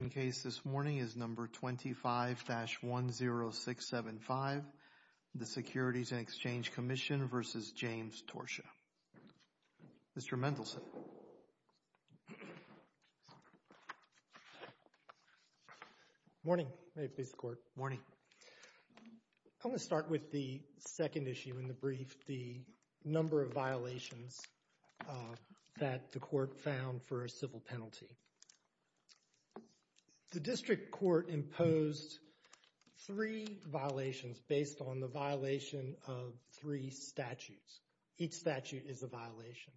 The case this morning is No. 25-10675, the Securities and Exchange Commission v. James Torchia. Mr. Mendelson. Morning. May it please the Court. Morning. I'm going to start with the second issue in the brief, the number of violations that the Court found for a civil penalty. The District Court imposed three violations based on the violation of three statutes. Each statute is a violation.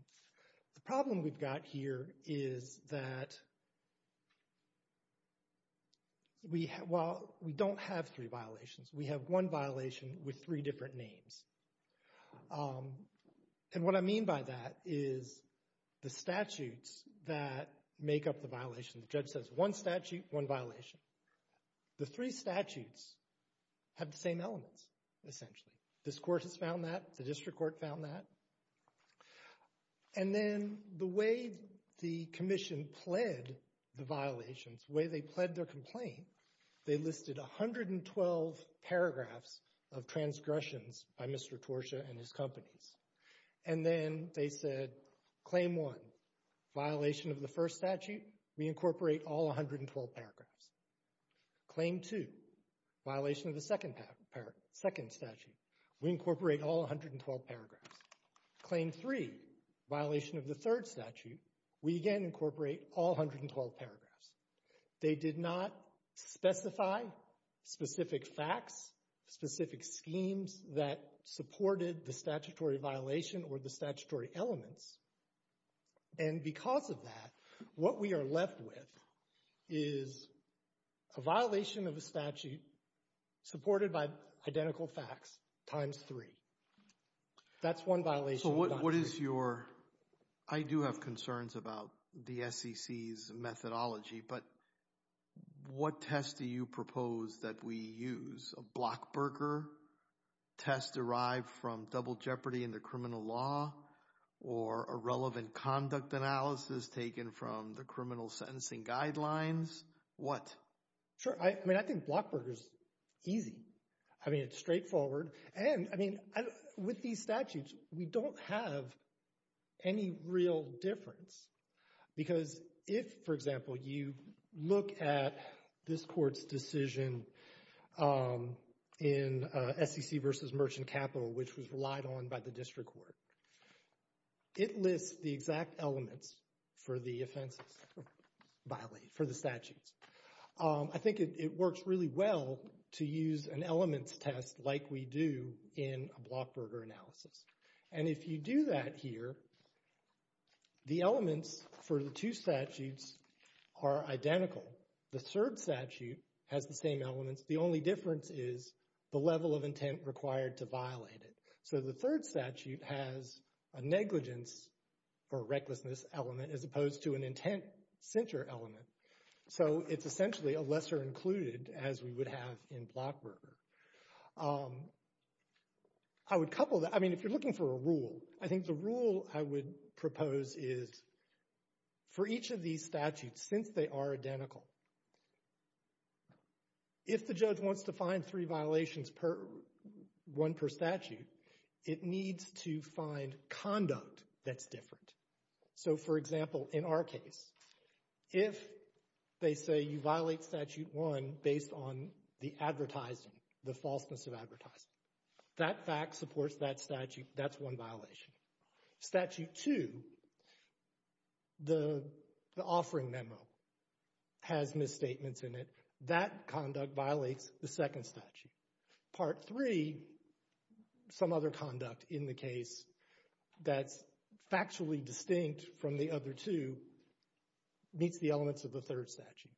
The problem we've got here is that we don't have three violations. We have one violation with three different names. And what I mean by that is the statutes that make up the violation, the judge says one statute, one violation. The three statutes have the same elements essentially. This Court has found that. The District Court found that. And then the way the Commission pled the violations, the way they pled their complaint, they listed 112 paragraphs of transgressions by Mr. Torchia and his companies. And then they said, Claim 1, violation of the first statute, we incorporate all 112 paragraphs. Claim 2, violation of the second statute, we incorporate all 112 paragraphs. Claim 3, violation of the third statute, we again incorporate all 112 paragraphs. They did not specify specific facts, specific schemes that supported the statutory violation or the statutory elements. And because of that, what we are left with is a violation of a statute supported by identical facts times three. That's one violation. So what is your – I do have concerns about the SEC's methodology, but what test do you propose that we use? A Blockberger test derived from double jeopardy in the criminal law? Or a relevant conduct analysis taken from the criminal sentencing guidelines? What? Sure. I mean, I think Blockberger is easy. I mean, it's straightforward. And, I mean, with these statutes, we don't have any real difference because if, for example, you look at this court's decision in SEC v. Merchant Capital, which was relied on by the District Court, it lists the exact elements for the offenses violated, for the statutes. I think it works really well to use an elements test like we do in a Blockberger analysis. And if you do that here, the elements for the two statutes are identical. The third statute has the same elements. The only difference is the level of intent required to violate it. So the third statute has a negligence or recklessness element as opposed to an intent censure element. So it's essentially a lesser included as we would have in Blockberger. I would couple that. I mean, if you're looking for a rule, I think the rule I would propose is for each of these statutes, since they are identical, if the judge wants to find three violations, one per statute, it needs to find conduct that's different. So, for example, in our case, if they say you violate statute one based on the advertising, the falseness of advertising, that fact supports that statute, that's one violation. Statute two, the offering memo, has misstatements in it. That conduct violates the second statute. Part three, some other conduct in the case that's factually distinct from the other two, meets the elements of the third statute.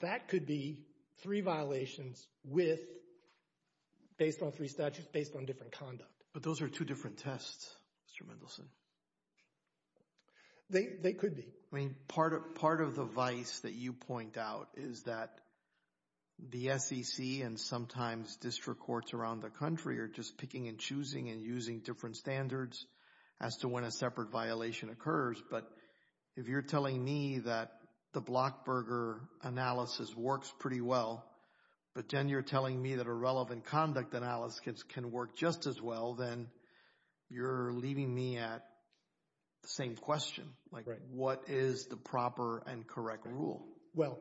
That could be three violations based on three statutes based on different conduct. But those are two different tests, Mr. Mendelson. They could be. I mean, part of the vice that you point out is that the SEC and sometimes district courts around the country are just picking and choosing and using different standards as to when a separate violation occurs. But if you're telling me that the Blockberger analysis works pretty well, but then you're telling me that a relevant conduct analysis can work just as well, then you're leaving me at the same question, like what is the proper and correct rule? Well,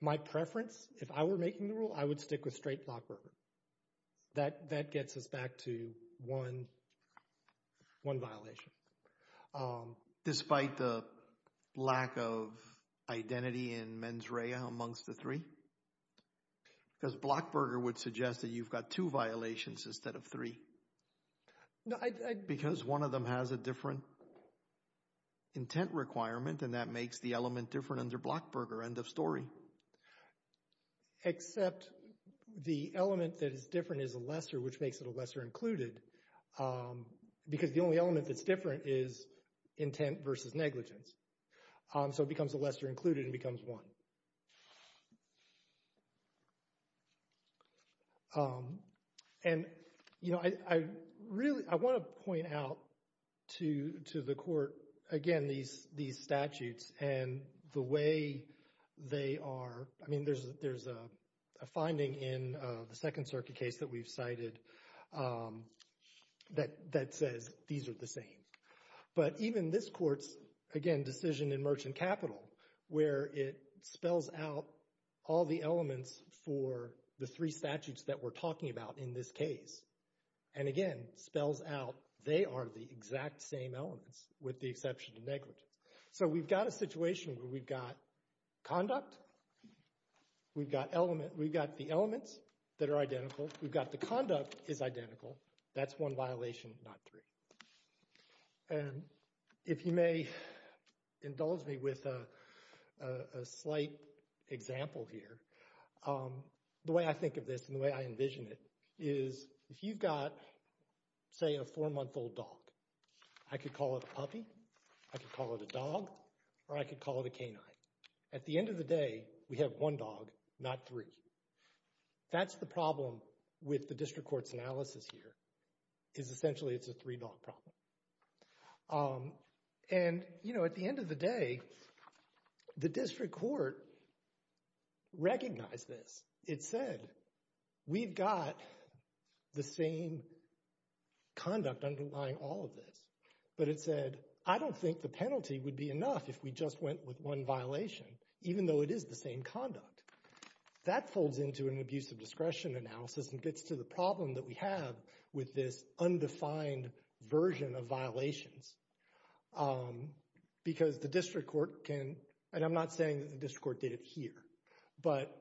my preference, if I were making the rule, I would stick with straight Blockberger. That gets us back to one violation. Despite the lack of identity in mens rea amongst the three? Because Blockberger would suggest that you've got two violations instead of three. Because one of them has a different intent requirement, and that makes the element different under Blockberger, end of story. Except the element that is different is a lesser, which makes it a lesser included. Because the only element that's different is intent versus negligence. So it becomes a lesser included and becomes one. And, you know, I want to point out to the court, again, these statutes and the way they are. I mean, there's a finding in the Second Circuit case that we've cited that says these are the same. But even this court's, again, decision in Merchant Capital, where it spells out all the elements for the three statutes that we're talking about in this case, and, again, spells out they are the exact same elements with the exception of negligence. So we've got a situation where we've got conduct. We've got the elements that are identical. We've got the conduct is identical. That's one violation, not three. And if you may indulge me with a slight example here, the way I think of this and the way I envision it is if you've got, say, a four-month-old dog, I could call it a puppy, I could call it a dog, or I could call it a canine. At the end of the day, we have one dog, not three. That's the problem with the district court's analysis here is essentially it's a three-dog problem. And, you know, at the end of the day, the district court recognized this. It said, we've got the same conduct underlying all of this. But it said, I don't think the penalty would be enough if we just went with one violation, even though it is the same conduct. That folds into an abuse of discretion analysis and gets to the problem that we have with this undefined version of violations. Because the district court can, and I'm not saying that the district court did it here, but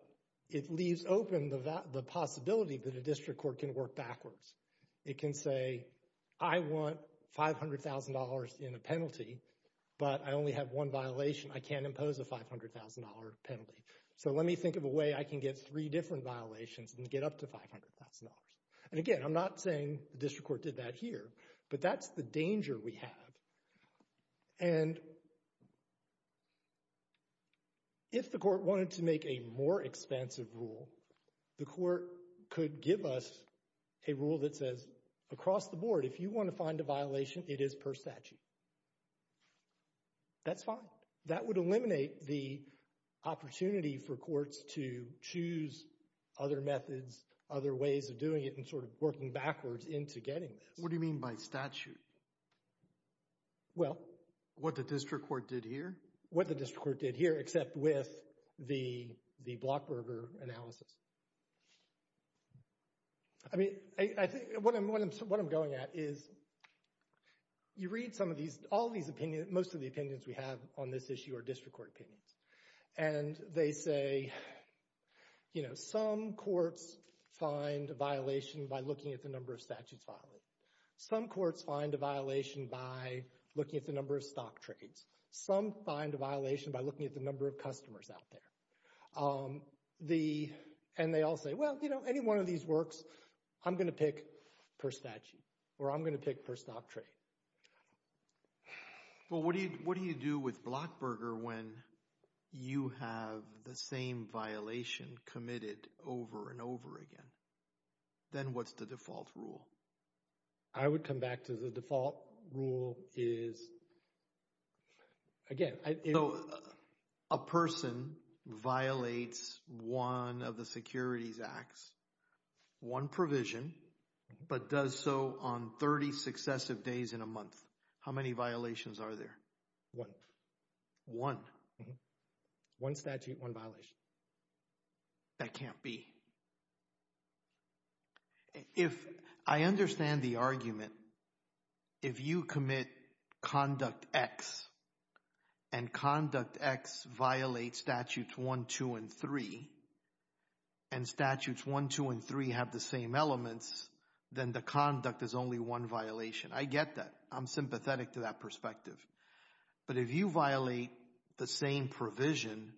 it leaves open the possibility that a district court can work backwards. It can say, I want $500,000 in a penalty, but I only have one violation. I can't impose a $500,000 penalty. So let me think of a way I can get three different violations and get up to $500,000. And, again, I'm not saying the district court did that here, but that's the danger we have. And if the court wanted to make a more expensive rule, the court could give us a rule that says, across the board, if you want to find a violation, it is per statute. That's fine. That would eliminate the opportunity for courts to choose other methods, other ways of doing it and sort of working backwards into getting this. What do you mean by statute? Well. What the district court did here? What the district court did here, except with the Blockberger analysis. I mean, what I'm going at is you read some of these, all these opinions, most of the opinions we have on this issue are district court opinions. And they say, you know, some courts find a violation by looking at the number of statutes filed. Some courts find a violation by looking at the number of stock trades. Some find a violation by looking at the number of customers out there. And they all say, well, you know, any one of these works. I'm going to pick per statute or I'm going to pick per stock trade. Well, what do you do with Blockberger when you have the same violation committed over and over again? Then what's the default rule? I would come back to the default rule is, again. So a person violates one of the securities acts, one provision, but does so on 30 successive days in a month. How many violations are there? One. One. One statute, one violation. That can't be. If I understand the argument, if you commit Conduct X, and Conduct X violates Statutes 1, 2, and 3, and Statutes 1, 2, and 3 have the same elements, then the conduct is only one violation. I get that. I'm sympathetic to that perspective. But if you violate the same provision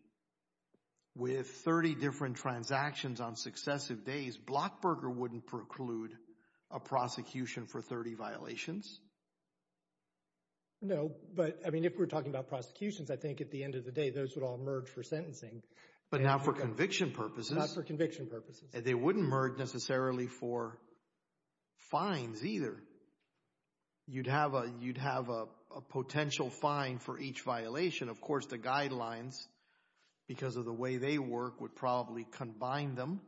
with 30 different transactions on successive days, Blockberger wouldn't preclude a prosecution for 30 violations. No, but, I mean, if we're talking about prosecutions, I think at the end of the day those would all merge for sentencing. But not for conviction purposes. Not for conviction purposes. They wouldn't merge necessarily for fines either. You'd have a potential fine for each violation. Of course, the guidelines, because of the way they work, would probably combine them,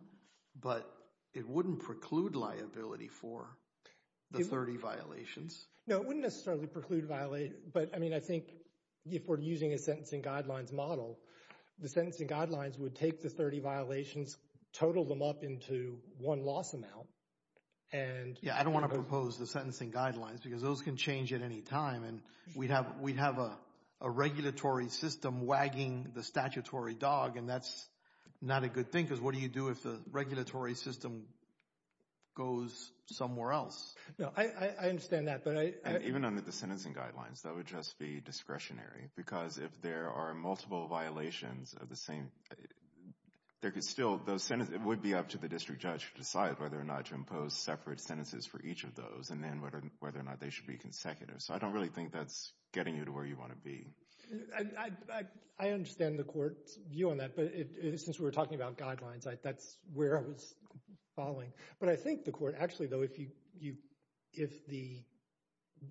but it wouldn't preclude liability for the 30 violations. No, it wouldn't necessarily preclude, but, I mean, I think if we're using a sentencing guidelines model, the sentencing guidelines would take the 30 violations, total them up into one loss amount, and Yeah, I don't want to propose the sentencing guidelines because those can change at any time, and we'd have a regulatory system wagging the statutory dog, and that's not a good thing because what do you do if the regulatory system goes somewhere else? No, I understand that, but I Even under the sentencing guidelines, that would just be discretionary because if there are multiple violations of the same, there could still, those sentences, it would be up to the district judge to decide whether or not to impose separate sentences for each of those and then whether or not they should be consecutive. So I don't really think that's getting you to where you want to be. I understand the court's view on that, but since we're talking about guidelines, that's where I was following. But I think the court, actually, though, if the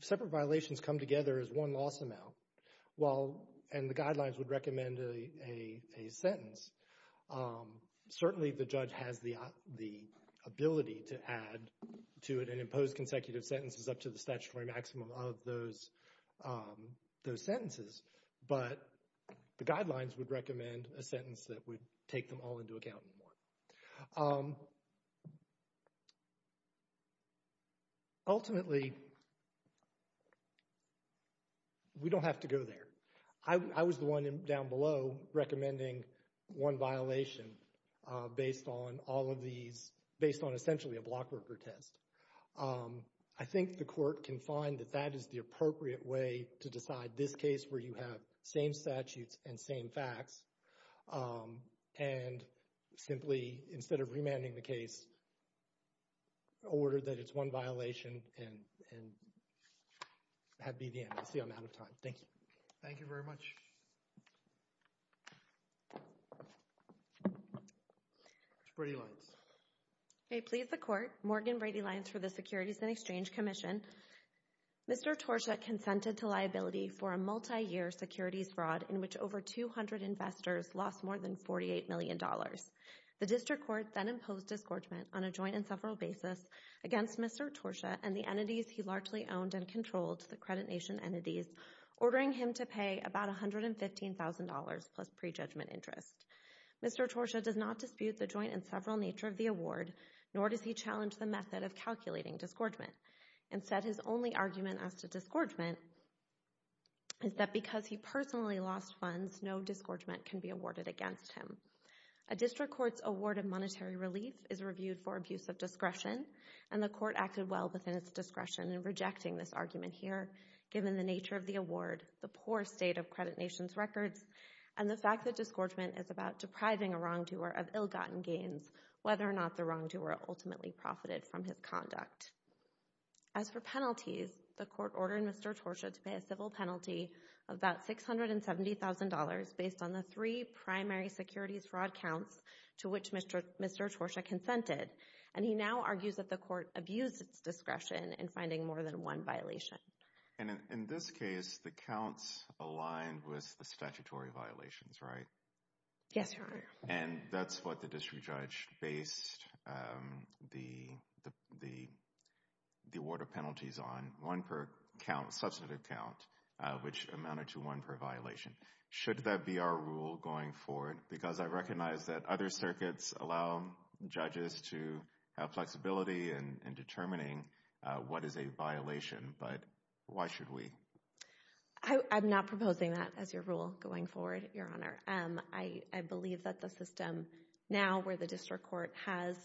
separate violations come together as one loss amount, and the guidelines would recommend a sentence, certainly the judge has the ability to add to it and impose consecutive sentences up to the statutory maximum of those sentences, but the guidelines would recommend a sentence that would take them all into account. Ultimately, we don't have to go there. I was the one down below recommending one violation based on all of these, based on essentially a blockworker test. I think the court can find that that is the appropriate way to decide this case where you have same statutes and same facts and simply, instead of remanding the case, order that it's one violation and that be the end. I see I'm out of time. Thank you. Thank you very much. Ms. Brady-Lynes. I plead the court, Morgan Brady-Lynes, for the Securities and Exchange Commission. Mr. Torscha consented to liability for a multi-year securities fraud in which over 200 investors lost more than $48 million. The district court then imposed disgorgement on a joint and several basis against Mr. Torscha and the entities he largely owned and controlled, the Credit Nation entities, ordering him to pay about $115,000 plus prejudgment interest. Mr. Torscha does not dispute the joint and several nature of the award, nor does he challenge the method of calculating disgorgement. Instead, his only argument as to disgorgement is that because he personally lost funds, no disgorgement can be awarded against him. A district court's award of monetary relief is reviewed for abuse of discretion, and the court acted well within its discretion in rejecting this argument here given the nature of the award, the poor state of Credit Nation's records, and the fact that disgorgement is about depriving a wrongdoer of ill-gotten gains, whether or not the wrongdoer ultimately profited from his conduct. As for penalties, the court ordered Mr. Torscha to pay a civil penalty of about $670,000 based on the three primary securities fraud counts to which Mr. Torscha consented, and he now argues that the court abused its discretion in finding more than one violation. And in this case, the counts aligned with the statutory violations, right? Yes, Your Honor. And that's what the district judge based the award of penalties on, one per substantive count, which amounted to one per violation. Should that be our rule going forward? Because I recognize that other circuits allow judges to have flexibility in determining what is a violation, but why should we? I'm not proposing that as your rule going forward, Your Honor. I believe that the system now where the district court has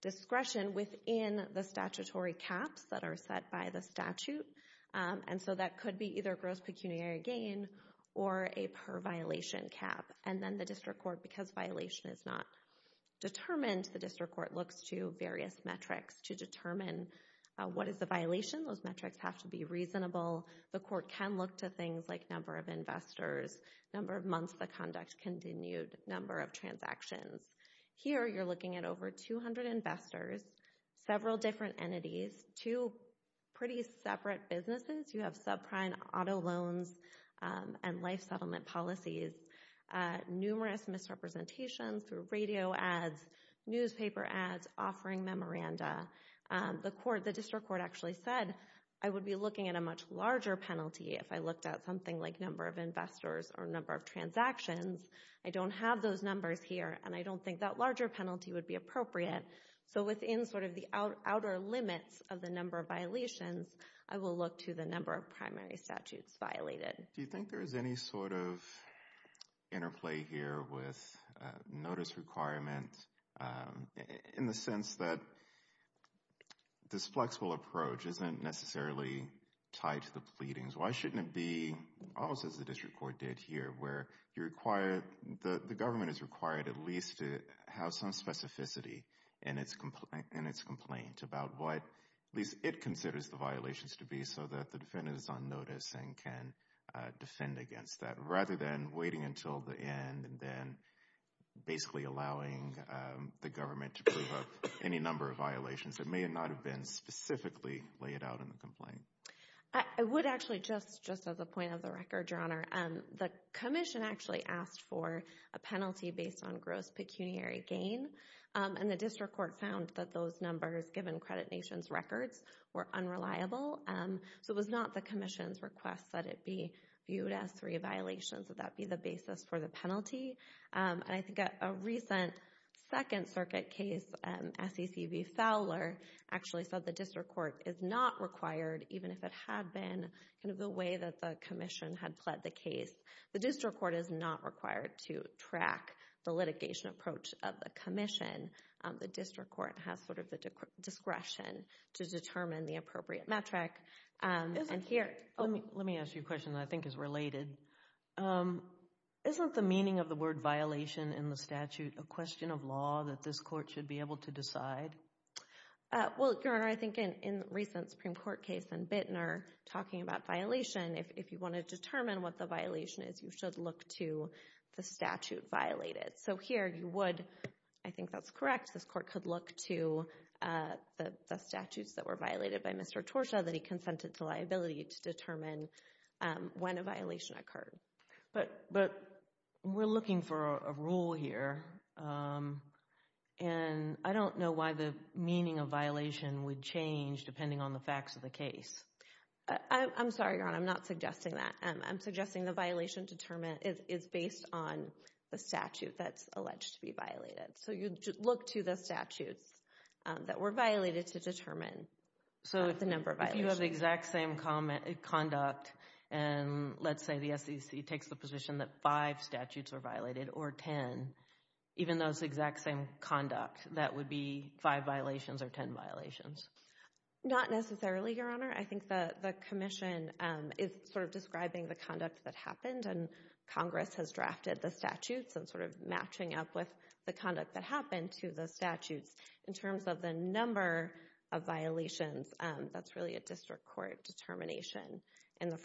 discretion within the statutory caps that are set by the statute, and so that could be either gross pecuniary gain or a per-violation cap. And then the district court, because violation is not determined, the district court looks to various metrics to determine what is a violation. Those metrics have to be reasonable. The court can look to things like number of investors, number of months the conduct continued, number of transactions. Here you're looking at over 200 investors, several different entities, two pretty separate businesses. You have subprime auto loans and life settlement policies, numerous misrepresentations through radio ads, newspaper ads, offering memoranda. The district court actually said, I would be looking at a much larger penalty if I looked at something like number of investors or number of transactions. I don't have those numbers here, and I don't think that larger penalty would be appropriate. So within sort of the outer limits of the number of violations, I will look to the number of primary statutes violated. Do you think there is any sort of interplay here with notice requirement in the sense that this flexible approach isn't necessarily tied to the pleadings? Why shouldn't it be, almost as the district court did here, where the government is required at least to have some specificity in its complaint about what at least it considers the violations to be so that the defendant is on notice and can defend against that, rather than waiting until the end and then basically allowing the government to prove up any number of violations that may not have been specifically laid out in the complaint? I would actually, just as a point of the record, Your Honor, the commission actually asked for a penalty based on gross pecuniary gain, and the district court found that those numbers, given Credit Nation's records, were unreliable. So it was not the commission's request that it be viewed as three violations, that that be the basis for the penalty. And I think a recent Second Circuit case, SEC v. Fowler, actually said the district court is not required, even if it had been the way that the commission had pled the case. The district court is not required to track the litigation approach of the commission. The district court has sort of the discretion to determine the appropriate metric. Let me ask you a question that I think is related. Isn't the meaning of the word violation in the statute a question of law that this court should be able to decide? Well, Your Honor, I think in the recent Supreme Court case and Bittner talking about violation, if you want to determine what the violation is, you should look to the statute violated. So here you would, I think that's correct, this court could look to the statutes that were violated by Mr. Torshaw that he consented to liability to determine when a violation occurred. But we're looking for a rule here, and I don't know why the meaning of violation would change depending on the facts of the case. I'm sorry, Your Honor, I'm not suggesting that. I'm suggesting the violation is based on the statute that's alleged to be violated. So you'd look to the statutes that were violated to determine the number of violations. If you have the exact same conduct, and let's say the SEC takes the position that five statutes are violated or ten, even though it's the exact same conduct, that would be five violations or ten violations? Not necessarily, Your Honor. I think the commission is sort of describing the conduct that happened, and Congress has drafted the statutes and sort of matching up with the conduct that happened to the statutes. In terms of the number of violations, that's really a district court determination.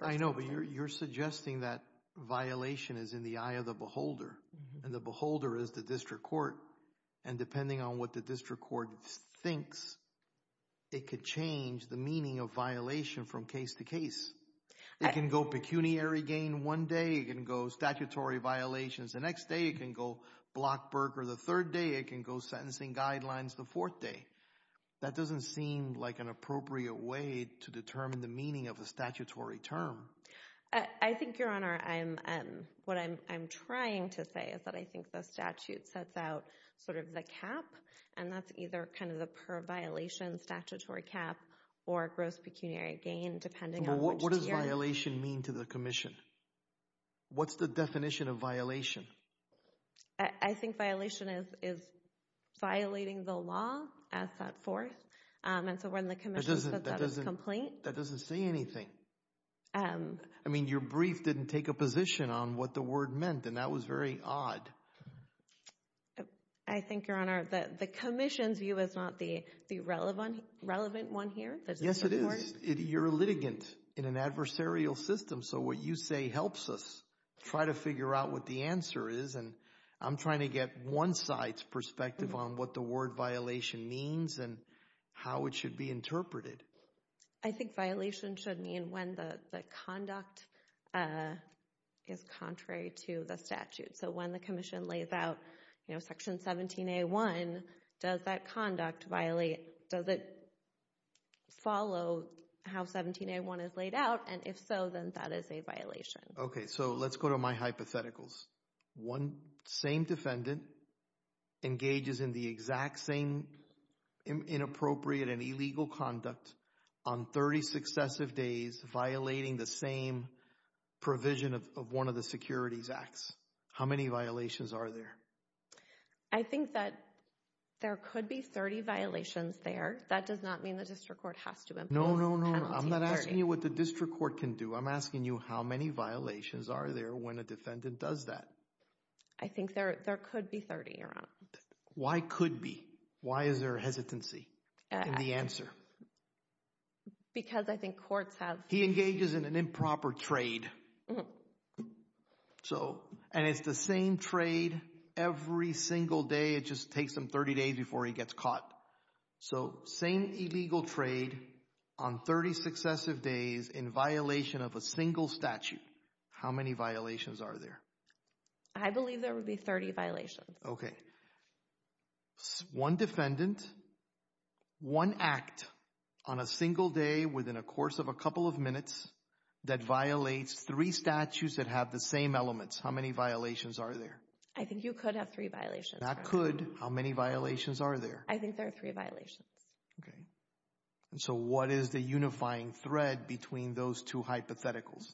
I know, but you're suggesting that violation is in the eye of the beholder, and the beholder is the district court, and depending on what the district court thinks, it could change the meaning of violation from case to case. It can go pecuniary gain one day, it can go statutory violations the next day, it can go Blockberg or the third day, it can go sentencing guidelines the fourth day. That doesn't seem like an appropriate way to determine the meaning of a statutory term. I think, Your Honor, what I'm trying to say is that I think the statute sets out sort of the cap, and that's either kind of the per-violation statutory cap or gross pecuniary gain, depending on which tier. What does violation mean to the commission? What's the definition of violation? I think violation is violating the law as set forth, and so when the commission says that as a complaint— That doesn't say anything. I mean, your brief didn't take a position on what the word meant, and that was very odd. I think, Your Honor, the commission's view is not the relevant one here. Yes, it is. You're a litigant in an adversarial system, so what you say helps us try to figure out what the answer is, and I'm trying to get one side's perspective on what the word violation means and how it should be interpreted. I think violation should mean when the conduct is contrary to the statute. So when the commission lays out Section 17A1, does that conduct violate— does it follow how 17A1 is laid out, and if so, then that is a violation. Okay, so let's go to my hypotheticals. One same defendant engages in the exact same inappropriate and illegal conduct on 30 successive days violating the same provision of one of the Securities Acts. How many violations are there? I think that there could be 30 violations there. That does not mean the district court has to impose Penalty 30. No, no, no. I'm not asking you what the district court can do. I'm asking you how many violations are there when a defendant does that. I think there could be 30, Your Honor. Why could be? Why is there a hesitancy in the answer? Because I think courts have— He engages in an improper trade, and it's the same trade every single day. It just takes him 30 days before he gets caught. So same illegal trade on 30 successive days in violation of a single statute. How many violations are there? I believe there would be 30 violations. Okay. One defendant, one act on a single day within a course of a couple of minutes that violates three statutes that have the same elements. How many violations are there? I think you could have three violations, Your Honor. That could. How many violations are there? I think there are three violations. Okay. So what is the unifying thread between those two hypotheticals?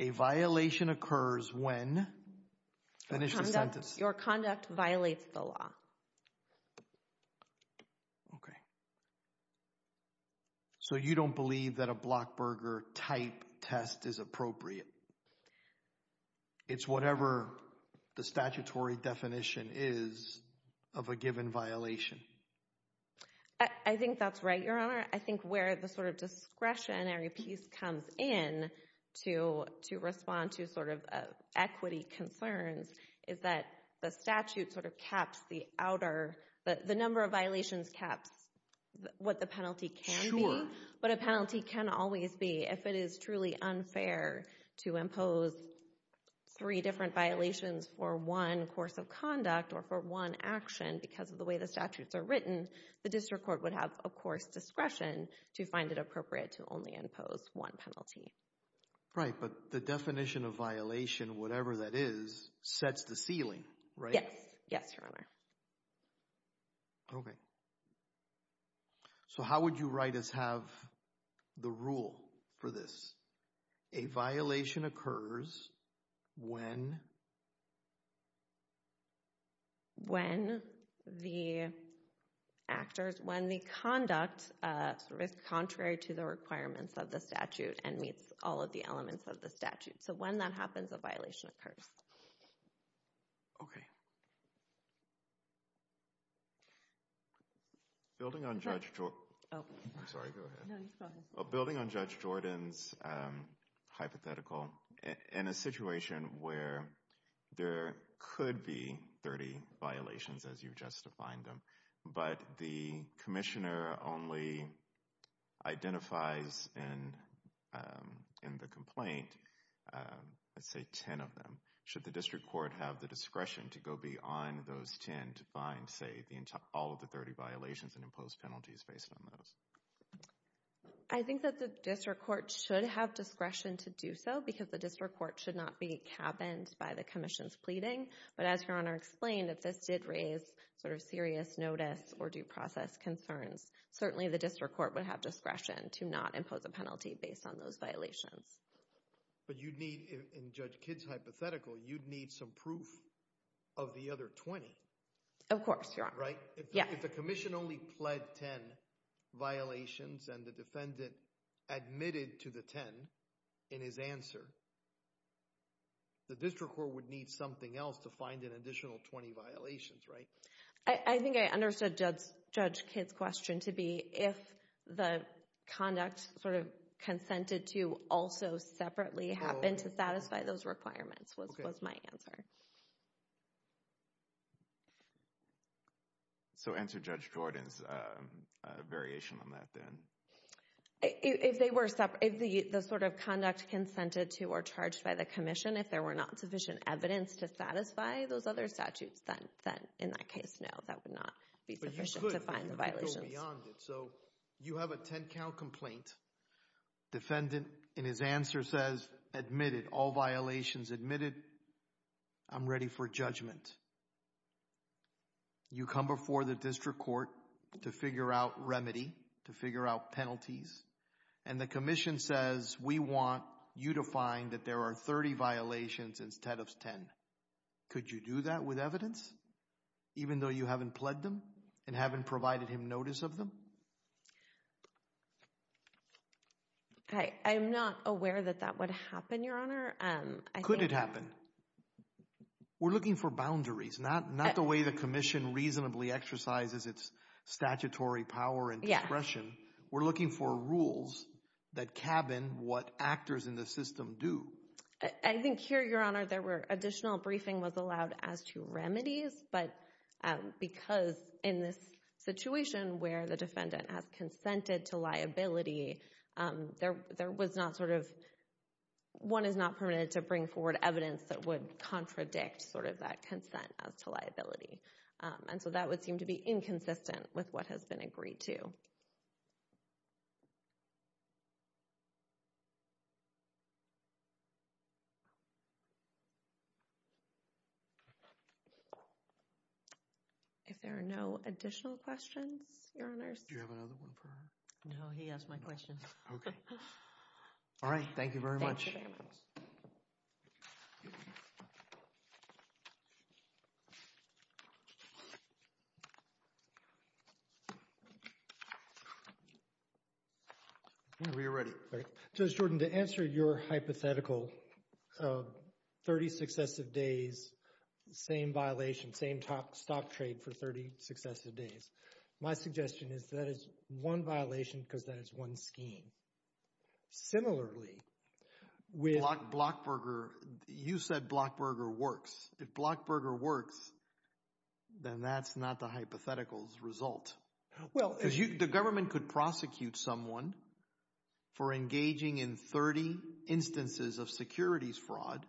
A violation occurs when—finish the sentence. Your conduct violates the law. Okay. So you don't believe that a Blockburger-type test is appropriate. It's whatever the statutory definition is of a given violation. I think that's right, Your Honor. I think where the sort of discretionary piece comes in to respond to sort of equity concerns is that the statute sort of caps the outer—the number of violations caps what the penalty can be. But a penalty can always be, if it is truly unfair to impose three different violations for one course of conduct or for one action because of the way the statutes are written, the district court would have, of course, discretion to find it appropriate to only impose one penalty. Right, but the definition of violation, whatever that is, sets the ceiling, right? Yes. Yes, Your Honor. Okay. So how would you write as have the rule for this? A violation occurs when— when the actors—when the conduct is contrary to the requirements of the statute and meets all of the elements of the statute. So when that happens, a violation occurs. Okay. Building on Judge Jordan's hypothetical, in a situation where there could be 30 violations as you've just defined them, but the commissioner only identifies in the complaint, let's say, 10 of them, should the district court have the discretion to go beyond those 10 to find, say, all of the 30 violations and impose penalties based on those? I think that the district court should have discretion to do so because the district court should not be cabined by the commission's pleading. But as Your Honor explained, if this did raise sort of serious notice or due process concerns, certainly the district court would have discretion to not impose a penalty based on those violations. But you'd need—in Judge Kidd's hypothetical, you'd need some proof of the other 20. Of course, Your Honor. Right? Yes. If the commission only pled 10 violations and the defendant admitted to the 10 in his answer, the district court would need something else to find an additional 20 violations, right? I think I understood Judge Kidd's question to be if the conduct sort of consented to also separately happen to satisfy those requirements was my answer. So answer Judge Jordan's variation on that then. If they were—if the sort of conduct consented to or charged by the commission, if there were not sufficient evidence to satisfy those other statutes, then in that case, no, that would not be sufficient to find the violations. But you could go beyond it. So you have a 10 count complaint. Defendant, in his answer, says admitted, all violations admitted. I'm ready for judgment. You come before the district court to figure out remedy, to figure out penalties, and the commission says we want you to find that there are 30 violations instead of 10. Could you do that with evidence, even though you haven't pled them and haven't provided him notice of them? I'm not aware that that would happen, Your Honor. Could it happen? We're looking for boundaries, not the way the commission reasonably exercises its statutory power and discretion. We're looking for rules that cabin what actors in the system do. I think here, Your Honor, there were additional briefing was allowed as to remedies, but because in this situation where the defendant has consented to liability, there was not sort of one is not permitted to bring forward evidence that would contradict sort of that consent as to liability. And so that would seem to be inconsistent with what has been agreed to. If there are no additional questions, Your Honors. Do you have another one for her? No, he asked my question. All right. Thank you very much. All right. Whenever you're ready. Judge Jordan, to answer your hypothetical 30 successive days, same violation, same stop trade for 30 successive days, my suggestion is that is one violation because that is one scheme. Similarly, with— Blockberger, you said Blockberger works. If Blockberger works, then that's not the hypothetical's result. The government could prosecute someone for engaging in 30 instances of securities fraud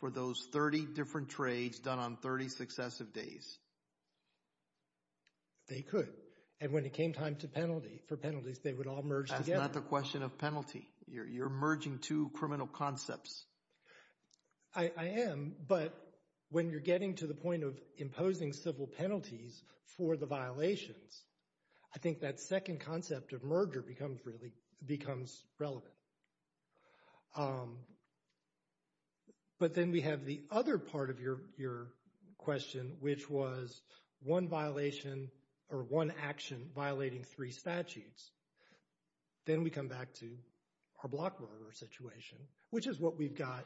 for those 30 different trades done on 30 successive days. They could. And when it came time to penalty, for penalties, they would all merge together. That's not the question of penalty. You're merging two criminal concepts. I am. But when you're getting to the point of imposing civil penalties for the violations, I think that second concept of merger becomes really—becomes relevant. But then we have the other part of your question, which was one violation or one action violating three statutes. Then we come back to our Blockberger situation, which is what we've got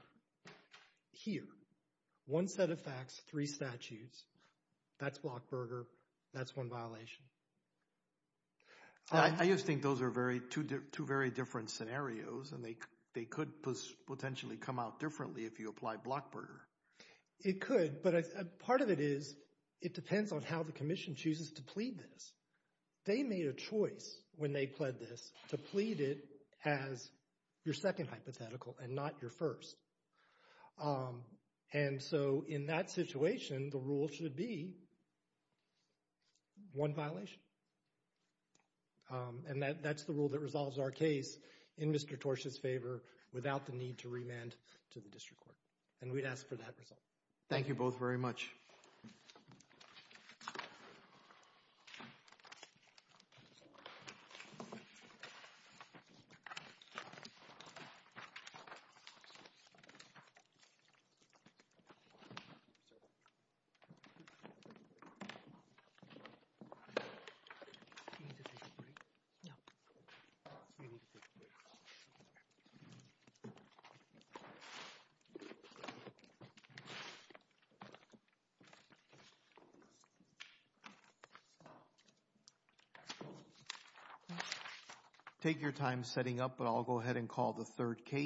here. One set of facts, three statutes. That's Blockberger. That's one violation. I just think those are two very different scenarios, and they could potentially come out differently if you apply Blockberger. It could, but part of it is it depends on how the Commission chooses to plead this. They made a choice when they pled this to plead it as your second hypothetical and not your first. And so in that situation, the rule should be one violation. And that's the rule that resolves our case in Mr. Torsh's favor without the need to remand to the district court. And we'd ask for that result. Thank you both very much. Thank you. Thank you.